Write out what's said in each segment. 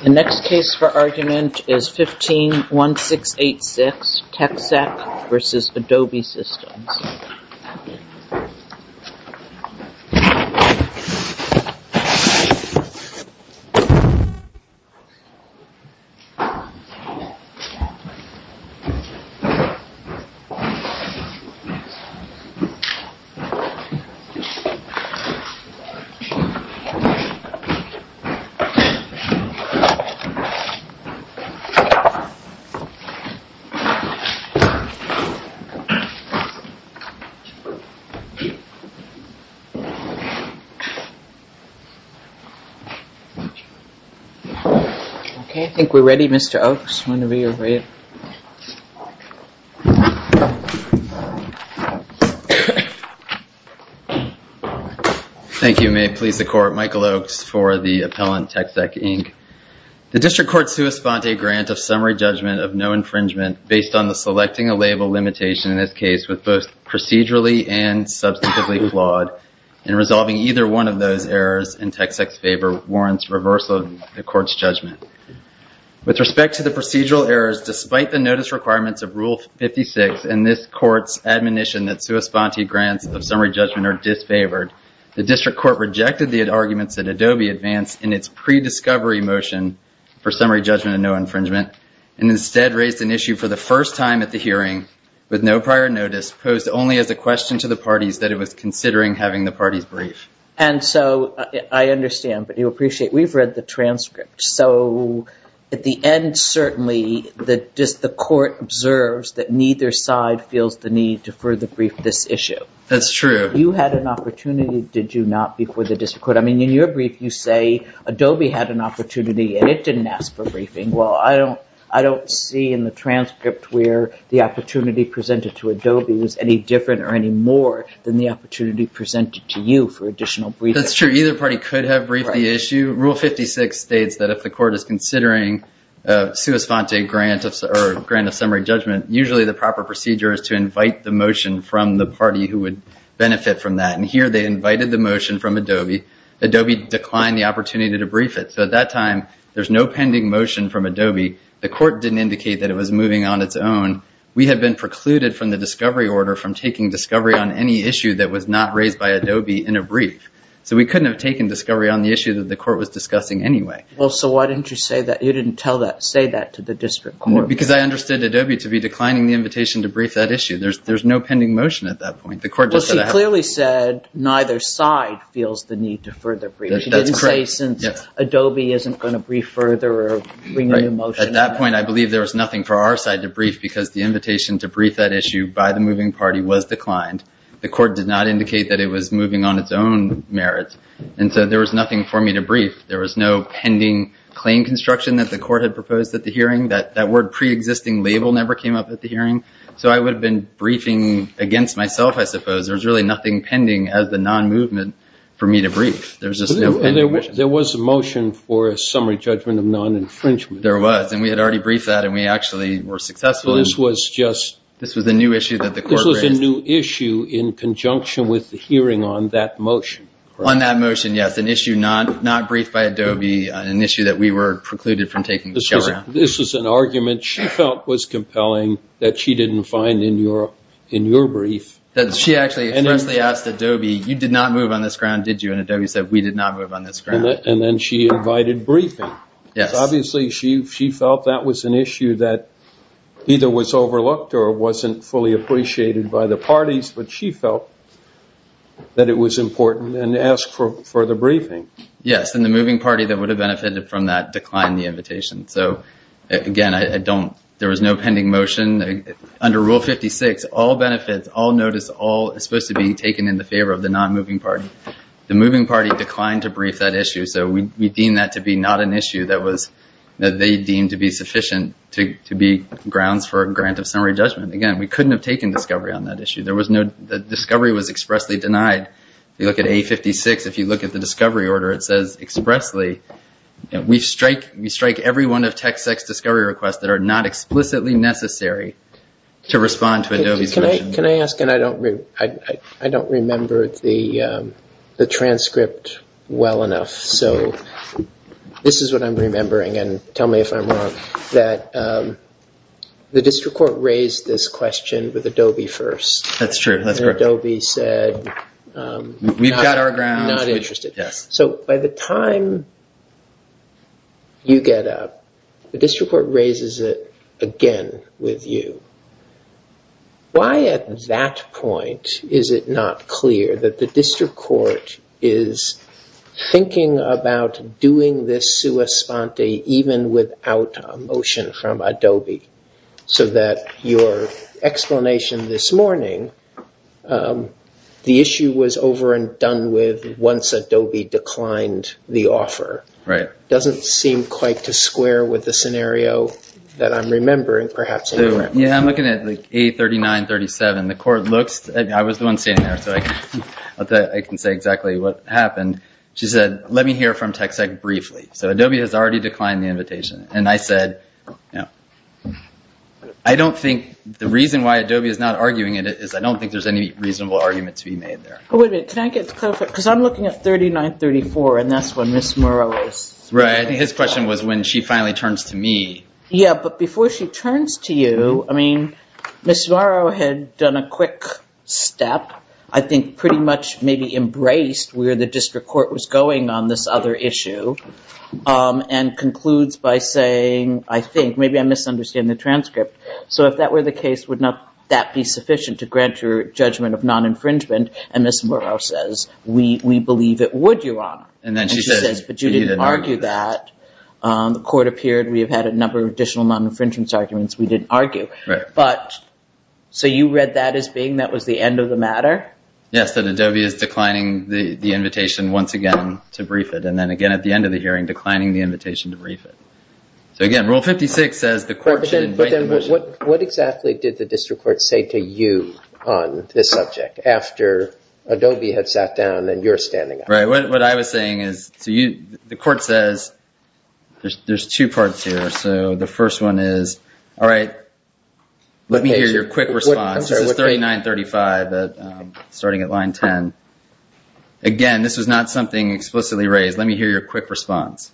The next case for argument is 15-1686, TecSec v. Adobe Systems Okay, I think we're ready Mr. Oaks, whenever you're ready. Thank you, may it please the court, Michael Oaks for the appellant TecSec, Inc. The district court sui sponte a grant of summary judgment of no infringement based on the selecting a label limitation in this case was both procedurally and substantively flawed, and resolving either one of those errors in TecSec's favor warrants reversal of the court's judgment. With respect to the procedural errors, despite the notice requirements of Rule 56 and this court's admonition that sui sponte grants of summary judgment are disfavored, the district court rejected the arguments that Adobe advanced in its pre-discovery motion for summary judgment of no infringement, and instead raised an issue for the first time at the hearing with no prior notice posed only as a question to the parties that it was considering having the parties brief. And so, I understand, but you appreciate, we've read the transcript, so at the end certainly the court observes that neither side feels the need to further brief this issue. That's true. You had an opportunity, did you not, before the district court, I mean in your brief you say Adobe had an opportunity and it didn't ask for briefing, well I don't see in the transcript where the opportunity presented to Adobe was any different or any more than the opportunity presented to you for additional briefing. That's true. Either party could have briefed the issue. Rule 56 states that if the court is considering a sui sponte grant of summary judgment, usually the proper procedure is to invite the motion from the party who would benefit from that. And here they invited the motion from Adobe. Adobe declined the opportunity to brief it. So at that time, there's no pending motion from Adobe. The court didn't indicate that it was moving on its own. We had been precluded from the discovery order from taking discovery on any issue that was not raised by Adobe in a brief. So we couldn't have taken discovery on the issue that the court was discussing anyway. Well, so why didn't you say that, you didn't tell that, say that to the district court? Because I understood Adobe to be declining the invitation to brief that issue. There's no pending motion at that point. The court just said that. Well, she clearly said neither side feels the need to further brief. That's correct. She didn't say since Adobe isn't going to brief further or bring a new motion. At that point, I believe there was nothing for our side to brief because the invitation to brief that issue by the moving party was declined. The court did not indicate that it was moving on its own merits. And so there was nothing for me to brief. There was no pending claim construction that the court had proposed at the hearing. That word pre-existing label never came up at the hearing. So I would have been briefing against myself, I suppose. There's really nothing pending as the non-movement for me to brief. There's just no pending motion. And there was a motion for a summary judgment of non-infringement. There was. And we had already briefed that. And we actually were successful. This was a new issue that the court raised. This was a new issue in conjunction with the hearing on that motion. On that motion, yes. An issue not briefed by Adobe, an issue that we were precluded from taking. This was an argument she felt was compelling that she didn't find in your brief. She actually freshly asked Adobe, you did not move on this ground, did you? And Adobe said, we did not move on this ground. And then she invited briefing. Yes. Obviously, she felt that was an issue that either was overlooked or wasn't fully appreciated by the parties. But she felt that it was important and asked for the briefing. Yes. And the moving party that would have benefited from that declined the invitation. So again, I don't, there was no pending motion. Under Rule 56, all benefits, all notice, all is supposed to be taken in the favor of the non-moving party. The moving party declined to brief that issue. So we deem that to be not an issue that was, that they deemed to be sufficient to be grounds for a grant of summary judgment. Again, we couldn't have taken discovery on that issue. There was no, the discovery was expressly denied. If you look at A56, if you look at the discovery order, it says expressly, we strike every one of TexEx discovery requests that are not explicitly necessary to respond to Adobe's motion. Can I ask, and I don't remember the transcript well enough. So this is what I'm remembering, and tell me if I'm wrong, that the district court raised this question with Adobe first. That's true. That's correct. And Adobe said- We've got our grounds. Not interested. Yes. So by the time you get up, the district court raises it again with you. Why at that point is it not clear that the district court is thinking about doing this sua sponte even without a motion from Adobe? So that your explanation this morning, the issue was over and done with once Adobe declined the offer. Right. It doesn't seem quite to square with the scenario that I'm remembering, perhaps- Yeah, I'm looking at A39, 37. The court looks, I was the one standing there, so I can say exactly what happened. She said, let me hear from TexEx briefly. So Adobe has already declined the invitation. And I said, I don't think the reason why Adobe is not arguing it is I don't think there's any reasonable argument to be made there. Oh, wait a minute. Can I get the clarification? Because I'm looking at 39, 34, and that's when Ms. Morrow is. Right. I think his question was when she finally turns to me. Yeah, but before she turns to you, I mean, Ms. Morrow had done a quick step. I think pretty much maybe embraced where the district court was going on this other issue and concludes by saying, I think, maybe I misunderstand the transcript. So if that were the case, would not that be sufficient to grant your judgment of non-infringement? And Ms. Morrow says, we believe it would, Your Honor. And then she says- And she says, but you didn't argue that. The court appeared, we have had a number of additional non-infringement arguments we didn't argue. Right. But, so you read that as being that was the end of the matter? Yes, that Adobe is declining the invitation once again to brief it. And then again, at the end of the hearing, declining the invitation to brief it. So again, Rule 56 says the court should invite the motion- What exactly did the district court say to you on this subject after Adobe had sat down and you're standing up? Right. What I was saying is, the court says, there's two parts here. So the first one is, all right, let me hear your quick response. This is 39, 35, starting at line 10. Again, this was not something explicitly raised. Let me hear your quick response.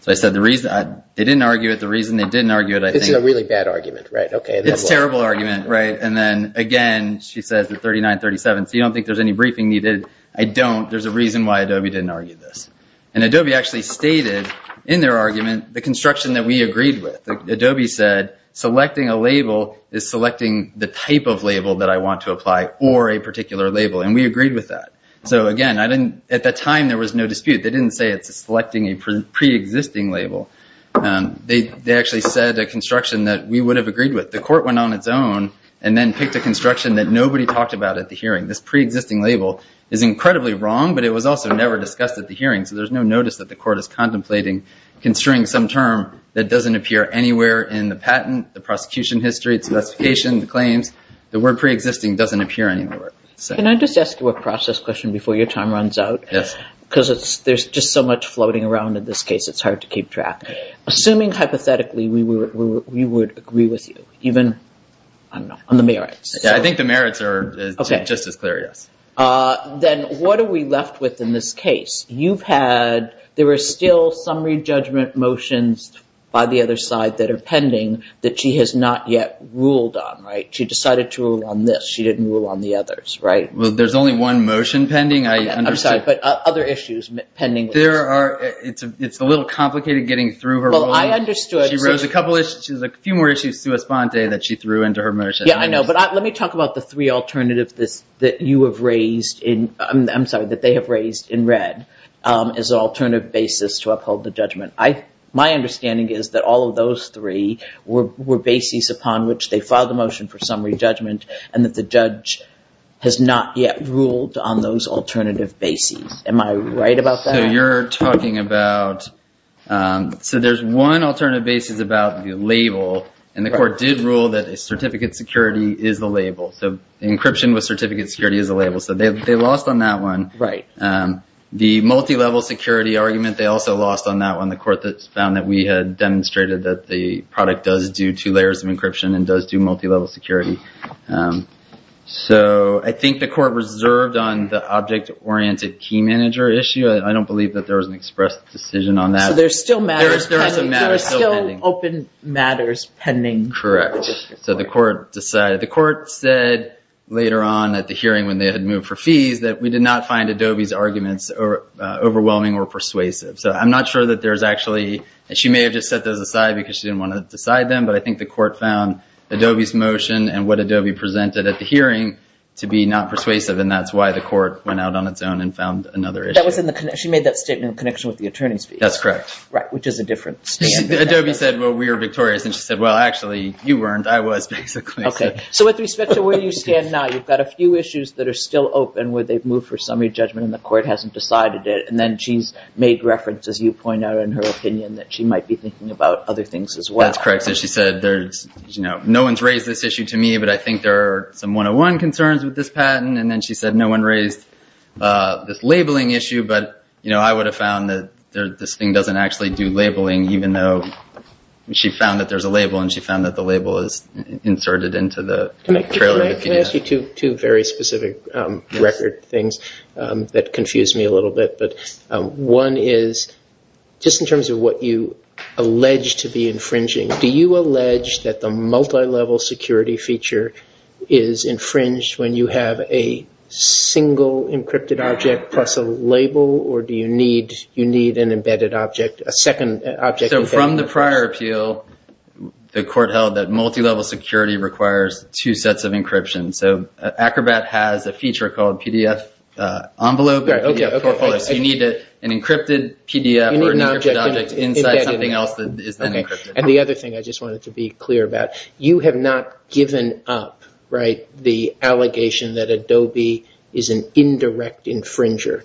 So I said, they didn't argue it. The reason they didn't argue it- This is a really bad argument, right? Okay. It's a terrible argument, right? And then again, she says the 39, 37, so you don't think there's any briefing needed? I don't. There's a reason why Adobe didn't argue this. And Adobe actually stated in their argument the construction that we agreed with. Adobe said, selecting a label is selecting the type of label that I want to apply or a particular label. And we agreed with that. So again, at that time, there was no dispute. They didn't say it's selecting a pre-existing label. They actually said a construction that we would have agreed with. The court went on its own and then picked a construction that nobody talked about at the hearing. This pre-existing label is incredibly wrong, but it was also never discussed at the hearing. So there's no notice that the court is contemplating construing some term that doesn't appear anywhere in the patent, the prosecution history, the specification, the claims. The word pre-existing doesn't appear anywhere. Can I just ask you a process question before your time runs out? Yes. Because there's just so much floating around in this case, it's hard to keep track. Assuming hypothetically we would agree with you, even on the merits. I think the merits are just as clear, yes. Then what are we left with in this case? You've had, there are still summary judgment motions by the other side that are pending that she has not yet ruled on, right? She decided to rule on this. She didn't rule on the others, right? There's only one motion pending. I understand. Right. But other issues pending. There are. It's a little complicated getting through her. Well, I understood. She raised a couple issues. She has a few more issues to respond to that she threw into her motion. Yeah, I know. But let me talk about the three alternatives that you have raised in, I'm sorry, that they have raised in red as an alternative basis to uphold the judgment. My understanding is that all of those three were bases upon which they filed the motion for summary judgment and that the judge has not yet ruled on those alternative bases. Am I right about that? So you're talking about, so there's one alternative basis about the label and the court did rule that a certificate security is the label. So encryption with certificate security is a label. So they lost on that one. The multi-level security argument, they also lost on that one. The court that found that we had demonstrated that the product does do two layers of encryption and does do multi-level security. So I think the court reserved on the object-oriented key manager issue. I don't believe that there was an express decision on that. So there's still matters pending. There are some matters still pending. There are still open matters pending. Correct. So the court decided, the court said later on at the hearing when they had moved for fees that we did not find Adobe's arguments overwhelming or persuasive. So I'm not sure that there's actually, and she may have just set those aside because she didn't want to decide them, but I think the court found Adobe's motion and what Adobe presented at the hearing to be not persuasive and that's why the court went out on its own and found another issue. She made that statement in connection with the attorney's fee. That's correct. Right. Which is a different stand. Adobe said, well, we were victorious. And she said, well, actually you weren't. I was basically. Okay. So with respect to where you stand now, you've got a few issues that are still open where they've moved for summary judgment and the court hasn't decided it. And then she's made reference as you point out in her opinion that she might be thinking about other things as well. That's correct. So she said, no one's raised this issue to me, but I think there are some one-on-one concerns with this patent. And then she said no one raised this labeling issue, but I would have found that this thing doesn't actually do labeling, even though she found that there's a label and she found that the label is inserted into the trailer. Can I ask you two very specific record things that confuse me a little bit? But one is just in terms of what you allege to be infringing, do you allege that the multilevel security feature is infringed when you have a single encrypted object plus a label or do you need an embedded object, a second object? So from the prior appeal, the court held that multilevel security requires two sets of encryption. So Acrobat has a feature called PDF envelope, so you need an encrypted PDF or an encrypted object inside something else that is not encrypted. And the other thing I just wanted to be clear about, you have not given up the allegation that Adobe is an indirect infringer.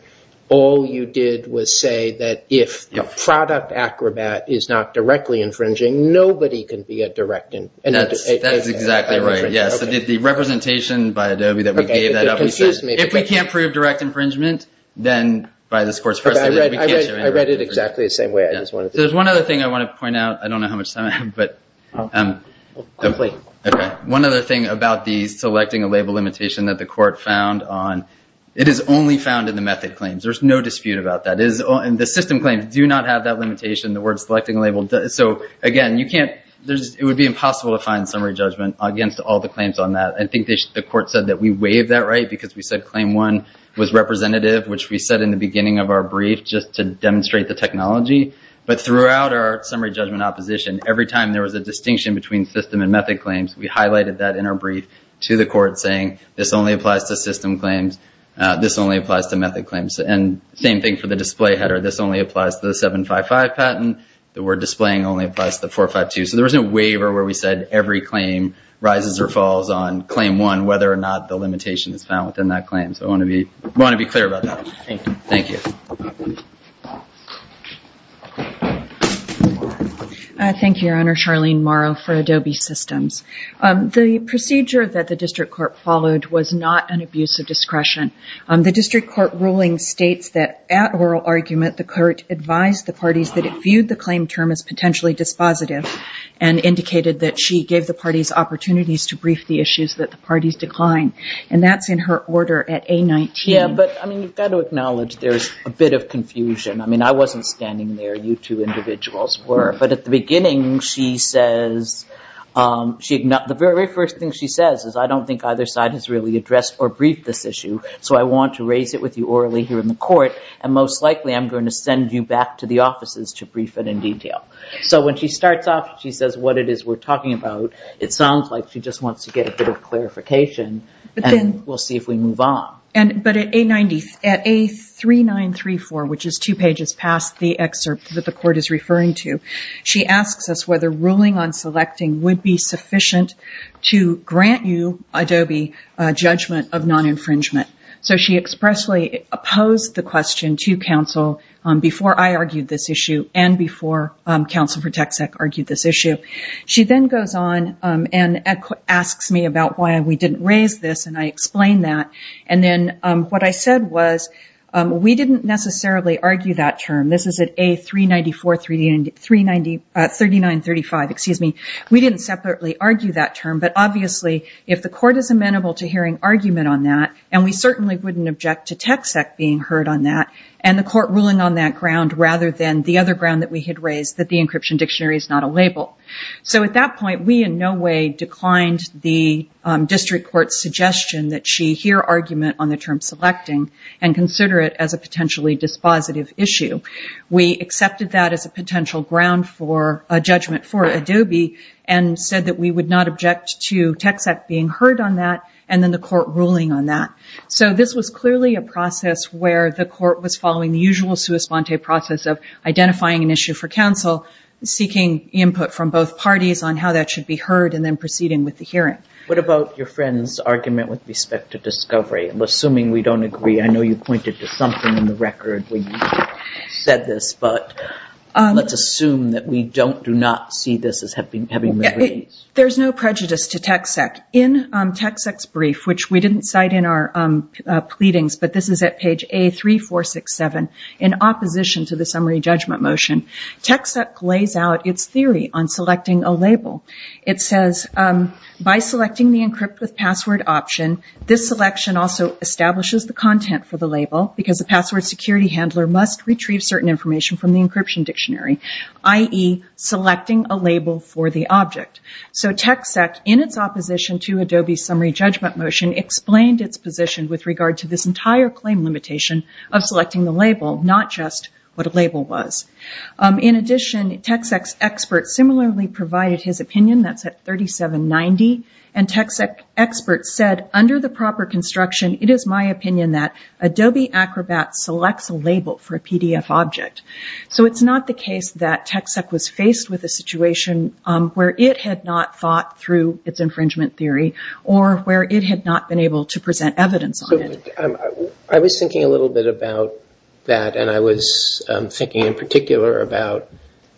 All you did was say that if the product Acrobat is not directly infringing, nobody can be a direct infringer. That's exactly right. So the representation by Adobe that we gave that up, we said, if we can't prove direct infringement, then by this court's first order, we can't show any direct infringement. I read it exactly the same way, I just wanted to be clear. So there's one other thing I want to point out. I don't know how much time I have, but one other thing about the selecting a label limitation that the court found on, it is only found in the method claims. There's no dispute about that. The system claims do not have that limitation, the word selecting a label. So again, it would be impossible to find summary judgment against all the claims on that. I think the court said that we waived that right because we said claim one was representative, which we said in the beginning of our brief just to demonstrate the technology. But throughout our summary judgment opposition, every time there was a distinction between system and method claims, we highlighted that in our brief to the court saying, this only applies to system claims, this only applies to method claims. And same thing for the display header, this only applies to the 755 patent. The word displaying only applies to the 452. So there was no waiver where we said every claim rises or falls on claim one, whether or not the limitation is found within that claim. So I want to be clear about that. Thank you. Thank you. Thank you, Your Honor. Charlene Morrow for Adobe Systems. The procedure that the district court followed was not an abuse of discretion. The district court ruling states that at oral argument, the court advised the parties that it viewed the claim term as potentially dispositive and indicated that she gave the parties opportunities to brief the issues that the parties declined. And that's in her order at A19. Yeah, but I mean, you've got to acknowledge there's a bit of confusion. I mean, I wasn't standing there, you two individuals were. But at the beginning, she says, the very first thing she says is, I don't think either side has really addressed or briefed this issue. So I want to raise it with you orally here in the court. And most likely, I'm going to send you back to the offices to brief it in detail. So when she starts off, she says what it is we're talking about. It sounds like she just wants to get a bit of clarification, and we'll see if we move on. But at A3934, which is two pages past the excerpt that the court is referring to, she asks us whether ruling on selecting would be sufficient to grant you, Adobe, a judgment of non-infringement. So she expressly opposed the question to counsel before I argued this issue and before counsel for tech sec argued this issue. She then goes on and asks me about why we didn't raise this, and I explain that. And then what I said was, we didn't necessarily argue that term. This is at A3935. We didn't separately argue that term. But obviously, if the court is amenable to hearing argument on that, and we certainly wouldn't object to tech sec being heard on that, and the court ruling on that ground rather than the other ground that we had raised, that the encryption dictionary is not a label. So at that point, we in no way declined the district court's suggestion that she hear argument on the term selecting and consider it as a potentially dispositive issue. We accepted that as a potential ground for a judgment for Adobe and said that we would not object to tech sec being heard on that and then the court ruling on that. So this was clearly a process where the court was following the usual sua sponte process of identifying an issue for counsel, seeking input from both parties on how that should be heard, and then proceeding with the hearing. What about your friend's argument with respect to discovery? Assuming we don't agree. I know you pointed to something in the record when you said this, but let's assume that we do not see this as having been raised. There's no prejudice to tech sec. In tech sec's brief, which we didn't cite in our pleadings, but this is at page A3467, in opposition to the summary judgment motion, tech sec lays out its theory on selecting a label. It says, by selecting the encrypt with password option, this selection also establishes the content for the label because the password security handler must retrieve certain information from the encryption dictionary, i.e., selecting a label for the object. So tech sec, in its opposition to Adobe's summary judgment motion, explained its position with regard to this entire claim limitation of selecting the label, not just what a label was. In addition, tech sec's expert similarly provided his opinion, that's at 3790, and tech sec expert said, under the proper construction, it is my opinion that Adobe Acrobat selects a label for a PDF object. So it's not the case that tech sec was faced with a situation where it had not thought through its infringement theory or where it had not been able to present evidence on it. I was thinking a little bit about that, and I was thinking in particular about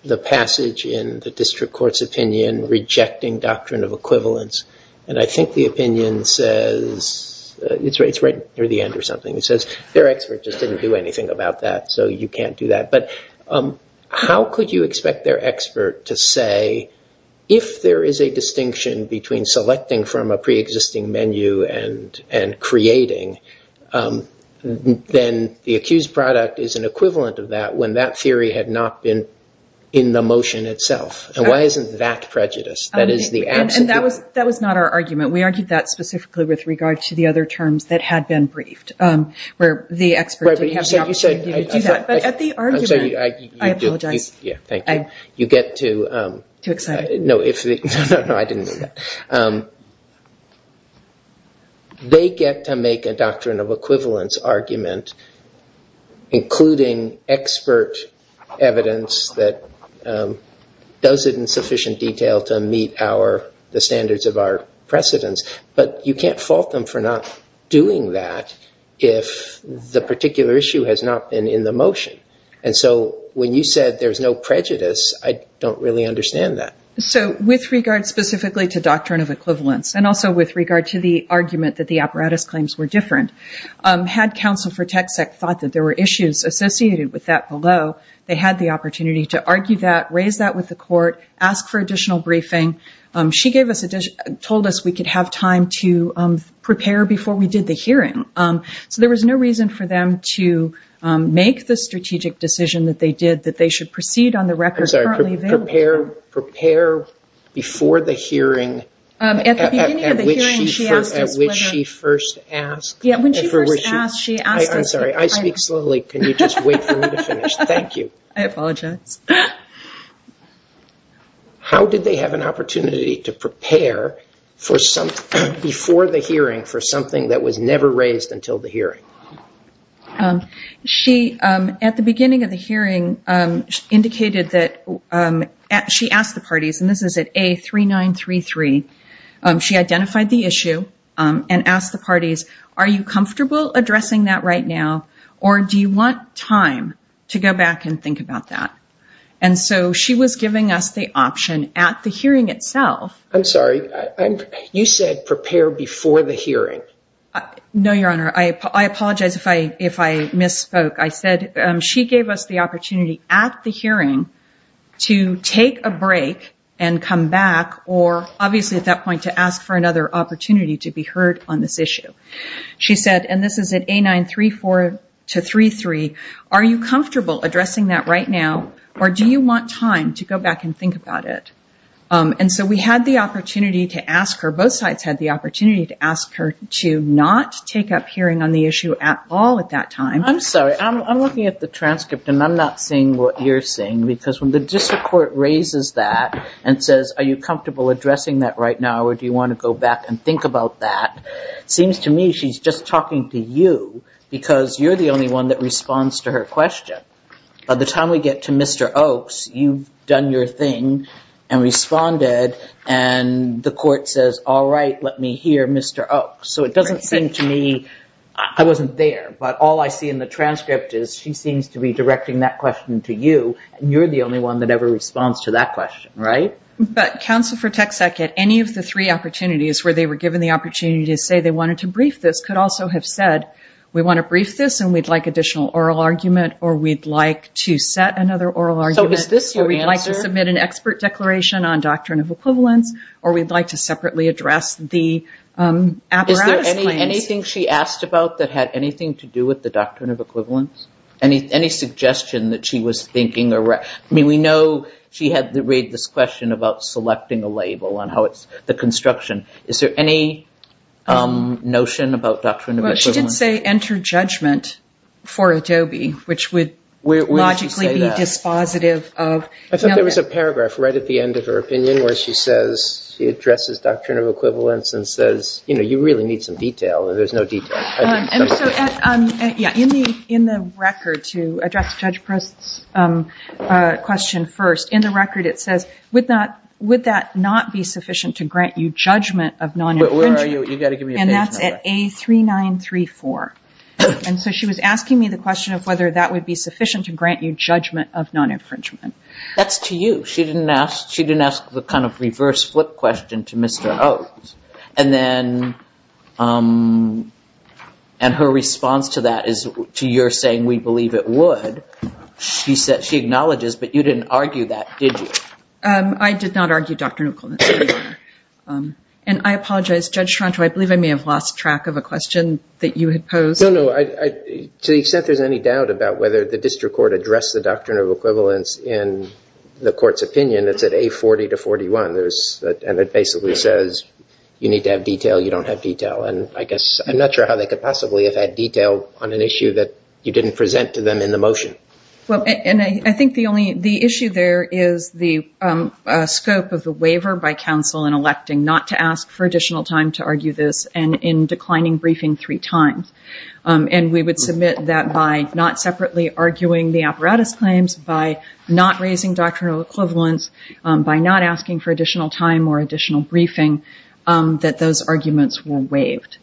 the passage in the district court's opinion rejecting doctrine of equivalence, and I think the opinion says, it's right near the end or something, it says their expert just didn't do anything about that, so you can't do that. But how could you expect their expert to say, if there is a distinction between selecting from a pre-existing menu and creating, then the accused product is an equivalent of that when that theory had not been in the motion itself. And why isn't that prejudice? That is the absolute... And that was not our argument. We argued that specifically with regard to the other terms that had been briefed, where the expert didn't have the opportunity to do that. But at the argument... I'm sorry. I apologize. Yeah, thank you. You get to... Too excited. No, I didn't mean that. They get to make a doctrine of equivalence argument, including expert evidence that does it in sufficient detail to meet the standards of our precedence, but you can't fault them for not doing that if the particular issue has not been in the motion. And so when you said there's no prejudice, I don't really understand that. So with regard specifically to doctrine of equivalence, and also with regard to the argument that the apparatus claims were different, had counsel for TxEC thought that there were issues associated with that below, they had the opportunity to argue that, raise that with the court, ask for additional briefing. She told us we could have time to prepare before we did the hearing. So there was no reason for them to make the strategic decision that they did, that they should proceed on the record currently available. I'm sorry. Prepare before the hearing, at which she first asked. Yeah, when she first asked, she asked us... I'm sorry. I speak slowly. Can you just wait for me to finish? Thank you. I apologize. How did they have an opportunity to prepare before the hearing for something that was never raised until the hearing? At the beginning of the hearing, she asked the parties, and this is at A3933, she identified the issue and asked the parties, are you comfortable addressing that right now, or do you want time to go back and think about that? And so she was giving us the option at the hearing itself... I'm sorry. You said prepare before the hearing. No, Your Honor, I apologize if I misspoke. I said she gave us the opportunity at the hearing to take a break and come back, or obviously at that point to ask for another opportunity to be heard on this issue. She said, and this is at A934-33, are you comfortable addressing that right now, or do you want time to go back and think about it? And so we had the opportunity to ask her, both sides had the opportunity to ask her to not take up hearing on the issue at all at that time. I'm sorry. I'm looking at the transcript, and I'm not seeing what you're seeing, because when the district court raises that and says, are you comfortable addressing that right now, or do you want to go back and think about that, it seems to me she's just talking to you, because you're the only one that responds to her question. By the time we get to Mr. Oaks, you've done your thing and responded, and the court says, all right, let me hear Mr. Oaks. So it doesn't seem to me... I wasn't there, but all I see in the transcript is she seems to be directing that question to you, and you're the only one that ever responds to that question, right? But counsel for TxECEC at any of the three opportunities where they were given the opportunity to say they wanted to brief this could also have said, we want to brief this, and we'd like additional oral argument, or we'd like to set another oral argument. So is this your answer? Or we'd like to submit an expert declaration on doctrine of equivalence, or we'd like to separately address the apparatus claims. Is there anything she asked about that had anything to do with the doctrine of equivalence? Any suggestion that she was thinking or... We know she had to read this question about selecting a label on how it's the construction. Is there any notion about doctrine of equivalence? She did say, enter judgment for Adobe, which would logically be dispositive of... I thought there was a paragraph right at the end of her opinion where she says, she addresses doctrine of equivalence and says, you really need some detail, and there's no detail. And so in the record to address Judge Proust's question first, in the record it says, would that not be sufficient to grant you judgment of non-infringement, and that's at A3934. And so she was asking me the question of whether that would be sufficient to grant you judgment of non-infringement. That's to you. She didn't ask the kind of reverse flip question to Mr. Oates. And then, and her response to that is to your saying, we believe it would. She acknowledges, but you didn't argue that, did you? I did not argue doctrine of equivalence. And I apologize, Judge Tronto, I believe I may have lost track of a question that you had posed. No, no. To the extent there's any doubt about whether the district court addressed the doctrine of equivalence in the court's opinion, it's at A40 to 41. And it basically says, you need to have detail, you don't have detail. And I guess, I'm not sure how they could possibly have had detail on an issue that you didn't present to them in the motion. And I think the only, the issue there is the scope of the waiver by counsel in electing not to ask for additional time to argue this, and in declining briefing three times. And we would submit that by not separately arguing the apparatus claims, by not raising doctrinal equivalence, by not asking for additional time or additional briefing, that those arguments were waived.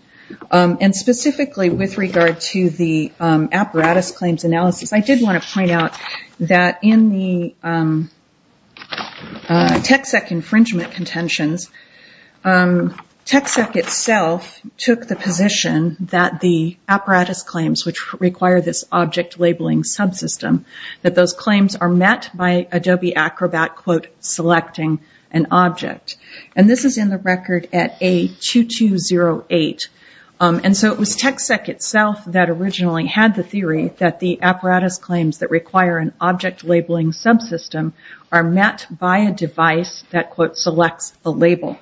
And specifically, with regard to the apparatus claims analysis, I did want to point out that in the TxEK infringement contentions, TxEK itself took the position that the apparatus claims, which require this object labeling subsystem, that those claims are met by Adobe Acrobat, quote, selecting an object. And this is in the record at A2208. And so it was TxEK itself that originally had the theory that the apparatus claims that object labeling subsystem are met by a device that, quote, selects a label.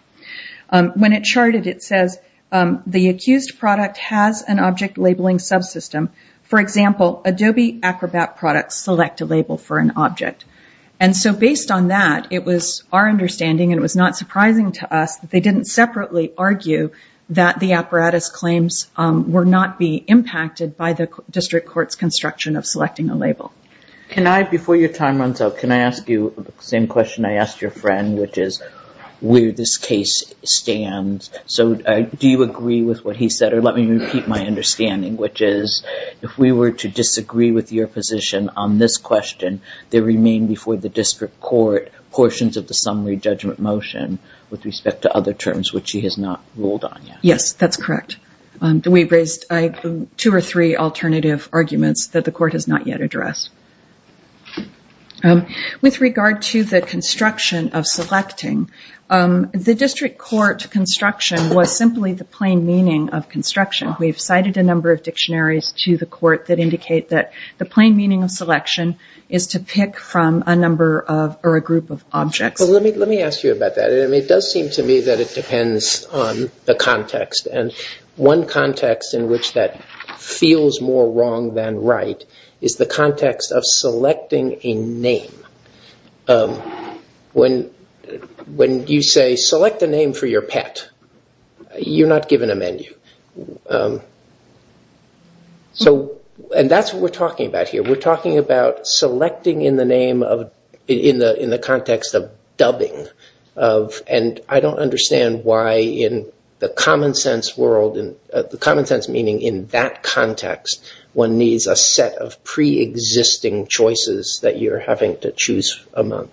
When it charted, it says the accused product has an object labeling subsystem. For example, Adobe Acrobat products select a label for an object. And so based on that, it was our understanding, and it was not surprising to us, that they didn't separately argue that the apparatus claims were not being impacted by the district court's construction of selecting a label. Can I, before your time runs out, can I ask you the same question I asked your friend, which is where this case stands? So do you agree with what he said? Or let me repeat my understanding, which is if we were to disagree with your position on this question, there remain before the district court portions of the summary judgment motion with respect to other terms, which he has not ruled on yet. Yes, that's correct. We raised two or three alternative arguments that the court has not yet addressed. With regard to the construction of selecting, the district court construction was simply the plain meaning of construction. We've cited a number of dictionaries to the court that indicate that the plain meaning of selection is to pick from a number of or a group of objects. Let me ask you about that. It does seem to me that it depends on the context. One context in which that feels more wrong than right is the context of selecting a name. When you say, select a name for your pet, you're not given a menu. That's what we're talking about here. We're talking about selecting in the context of dubbing. I don't understand why in the common sense world, the common sense meaning in that context, one needs a set of pre-existing choices that you're having to choose among.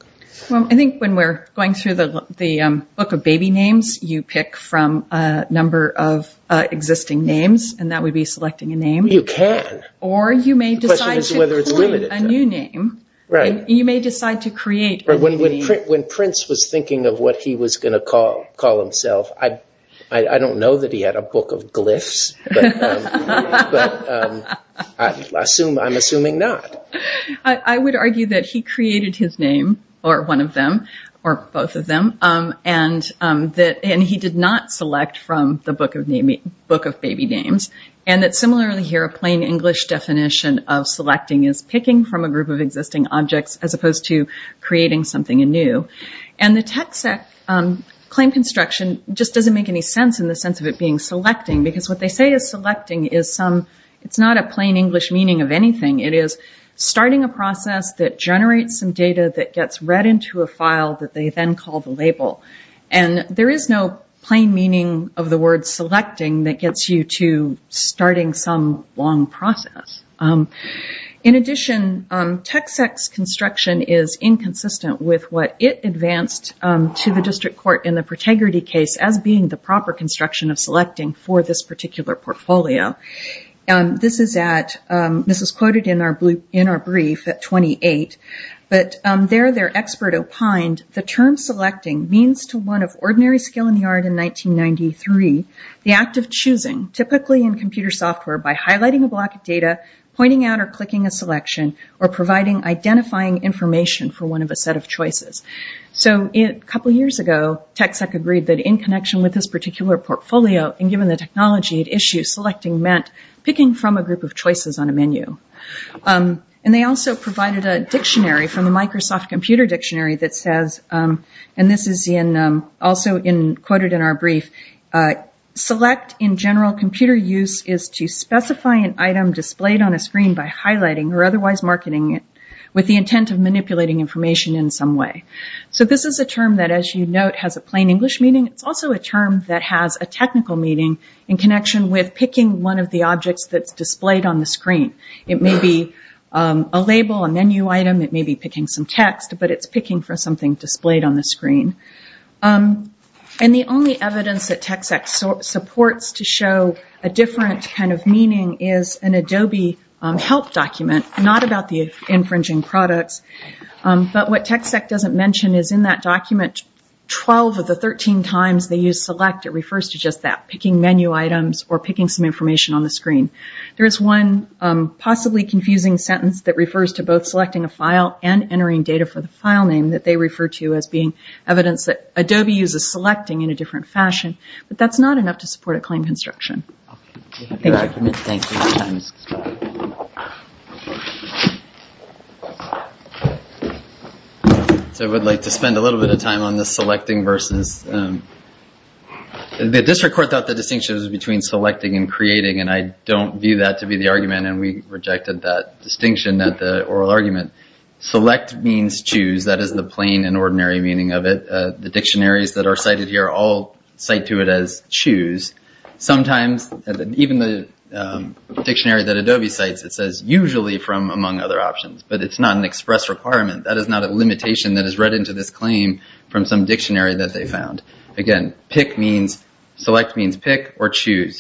I think when we're going through the book of baby names, you pick from a number of existing names and that would be selecting a name. You can. Or you may decide to create a new name. You may decide to create a new name. When Prince was thinking of what he was going to call himself, I don't know that he had a book of glyphs, but I'm assuming not. I would argue that he created his name, or one of them, or both of them, and he did not of selecting is picking from a group of existing objects as opposed to creating something anew. The tech sec claim construction just doesn't make any sense in the sense of it being selecting because what they say is selecting is not a plain English meaning of anything. It is starting a process that generates some data that gets read into a file that they then call the label. There is no plain meaning of the word selecting that gets you to starting some long process. In addition, tech sec's construction is inconsistent with what it advanced to the district court in the protegrity case as being the proper construction of selecting for this particular portfolio. This is quoted in our brief at 28, but there their expert opined, the term selecting means to one of ordinary skill in the art in 1993, the act of choosing, typically in computer software by highlighting a block of data, pointing out or clicking a selection, or providing identifying information for one of a set of choices. A couple of years ago, tech sec agreed that in connection with this particular portfolio and given the technology at issue, selecting meant picking from a group of choices on a menu. They also provided a dictionary from the Microsoft Computer Dictionary that says, and this is also quoted in our brief, select in general computer use is to specify an item displayed on a screen by highlighting or otherwise marketing it with the intent of manipulating information in some way. This is a term that, as you note, has a plain English meaning. It's also a term that has a technical meaning in connection with picking one of the objects that's displayed on the screen. It may be a label, a menu item, it may be picking some text, but it's picking for something that's displayed on the screen. The only evidence that tech sec supports to show a different kind of meaning is an Adobe help document, not about the infringing products. What tech sec doesn't mention is in that document, 12 of the 13 times they use select, it refers to just that, picking menu items or picking some information on the screen. There is one possibly confusing sentence that refers to both selecting a file and entering data for the file name that they refer to as being evidence that Adobe uses selecting in a different fashion, but that's not enough to support a claim construction. Thank you. I would like to spend a little bit of time on this selecting versus... The district court thought the distinction was between selecting and creating, and I don't view that to be the argument, and we rejected that distinction at the oral argument. Select means choose, that is the plain and ordinary meaning of it. The dictionaries that are cited here all cite to it as choose. Sometimes even the dictionary that Adobe cites, it says usually from among other options, but it's not an express requirement. That is not a limitation that is read into this claim from some dictionary that they found. Again, pick means... Select means pick or choose.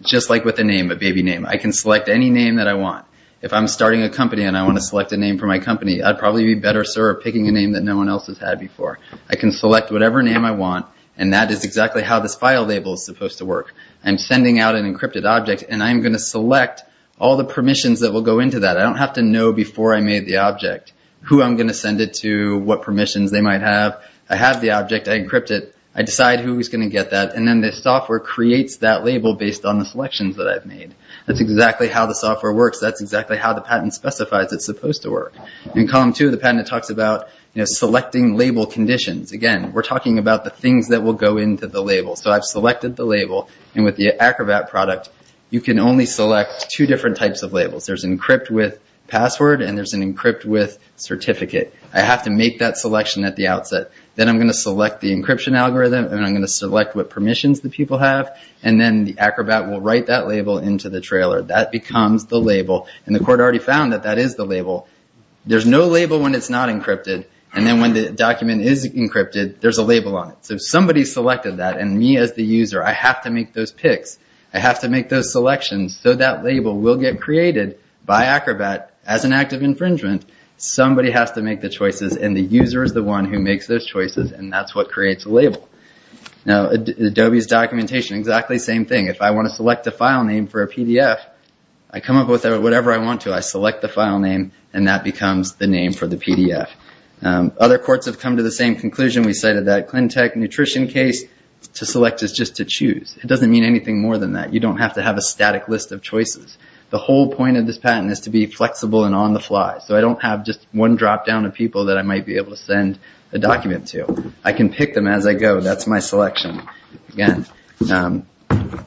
Just like with a name, a baby name, I can select any name that I want. If I'm starting a company and I want to select a name for my company, I'd probably be better served picking a name that no one else has had before. I can select whatever name I want, and that is exactly how this file label is supposed to work. I'm sending out an encrypted object, and I'm going to select all the permissions that will go into that. I don't have to know before I made the object who I'm going to send it to, what permissions they might have. I have the object. I encrypt it. I decide who is going to get that, and then the software creates that label based on the selections that I've made. That's exactly how the software works. That's exactly how the patent specifies it's supposed to work. In column two of the patent, it talks about selecting label conditions. Again, we're talking about the things that will go into the label. I've selected the label, and with the Acrobat product, you can only select two different types of labels. There's encrypt with password, and there's an encrypt with certificate. I have to make that selection at the outset. Then I'm going to select the encryption algorithm, and I'm going to select what permissions the people have, and then the Acrobat will write that label into the trailer. That becomes the label, and the court already found that that is the label. There's no label when it's not encrypted, and then when the document is encrypted, there's a label on it. So somebody selected that, and me as the user, I have to make those picks. I have to make those selections so that label will get created by Acrobat as an act of infringement. Somebody has to make the choices, and the user is the one who makes those choices, and that's what creates a label. Adobe's documentation, exactly the same thing. If I want to select a file name for a PDF, I come up with whatever I want to. I select the file name, and that becomes the name for the PDF. Other courts have come to the same conclusion. We cited that ClinTech nutrition case. To select is just to choose. It doesn't mean anything more than that. You don't have to have a static list of choices. The whole point of this patent is to be flexible and on the fly, so I don't have just one drop down of people that I might be able to send a document to. I can pick them as I go. That's my selection. Again, the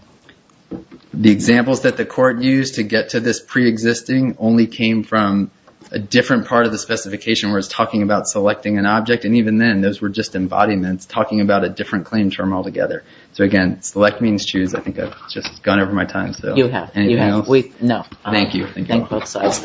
examples that the court used to get to this preexisting only came from a different part of the specification where it's talking about selecting an object, and even then, those were just embodiments talking about a different claim term altogether. Again, select means choose. I think I've just gone over my time. Anything else? No. Thank you. Thank you both sides.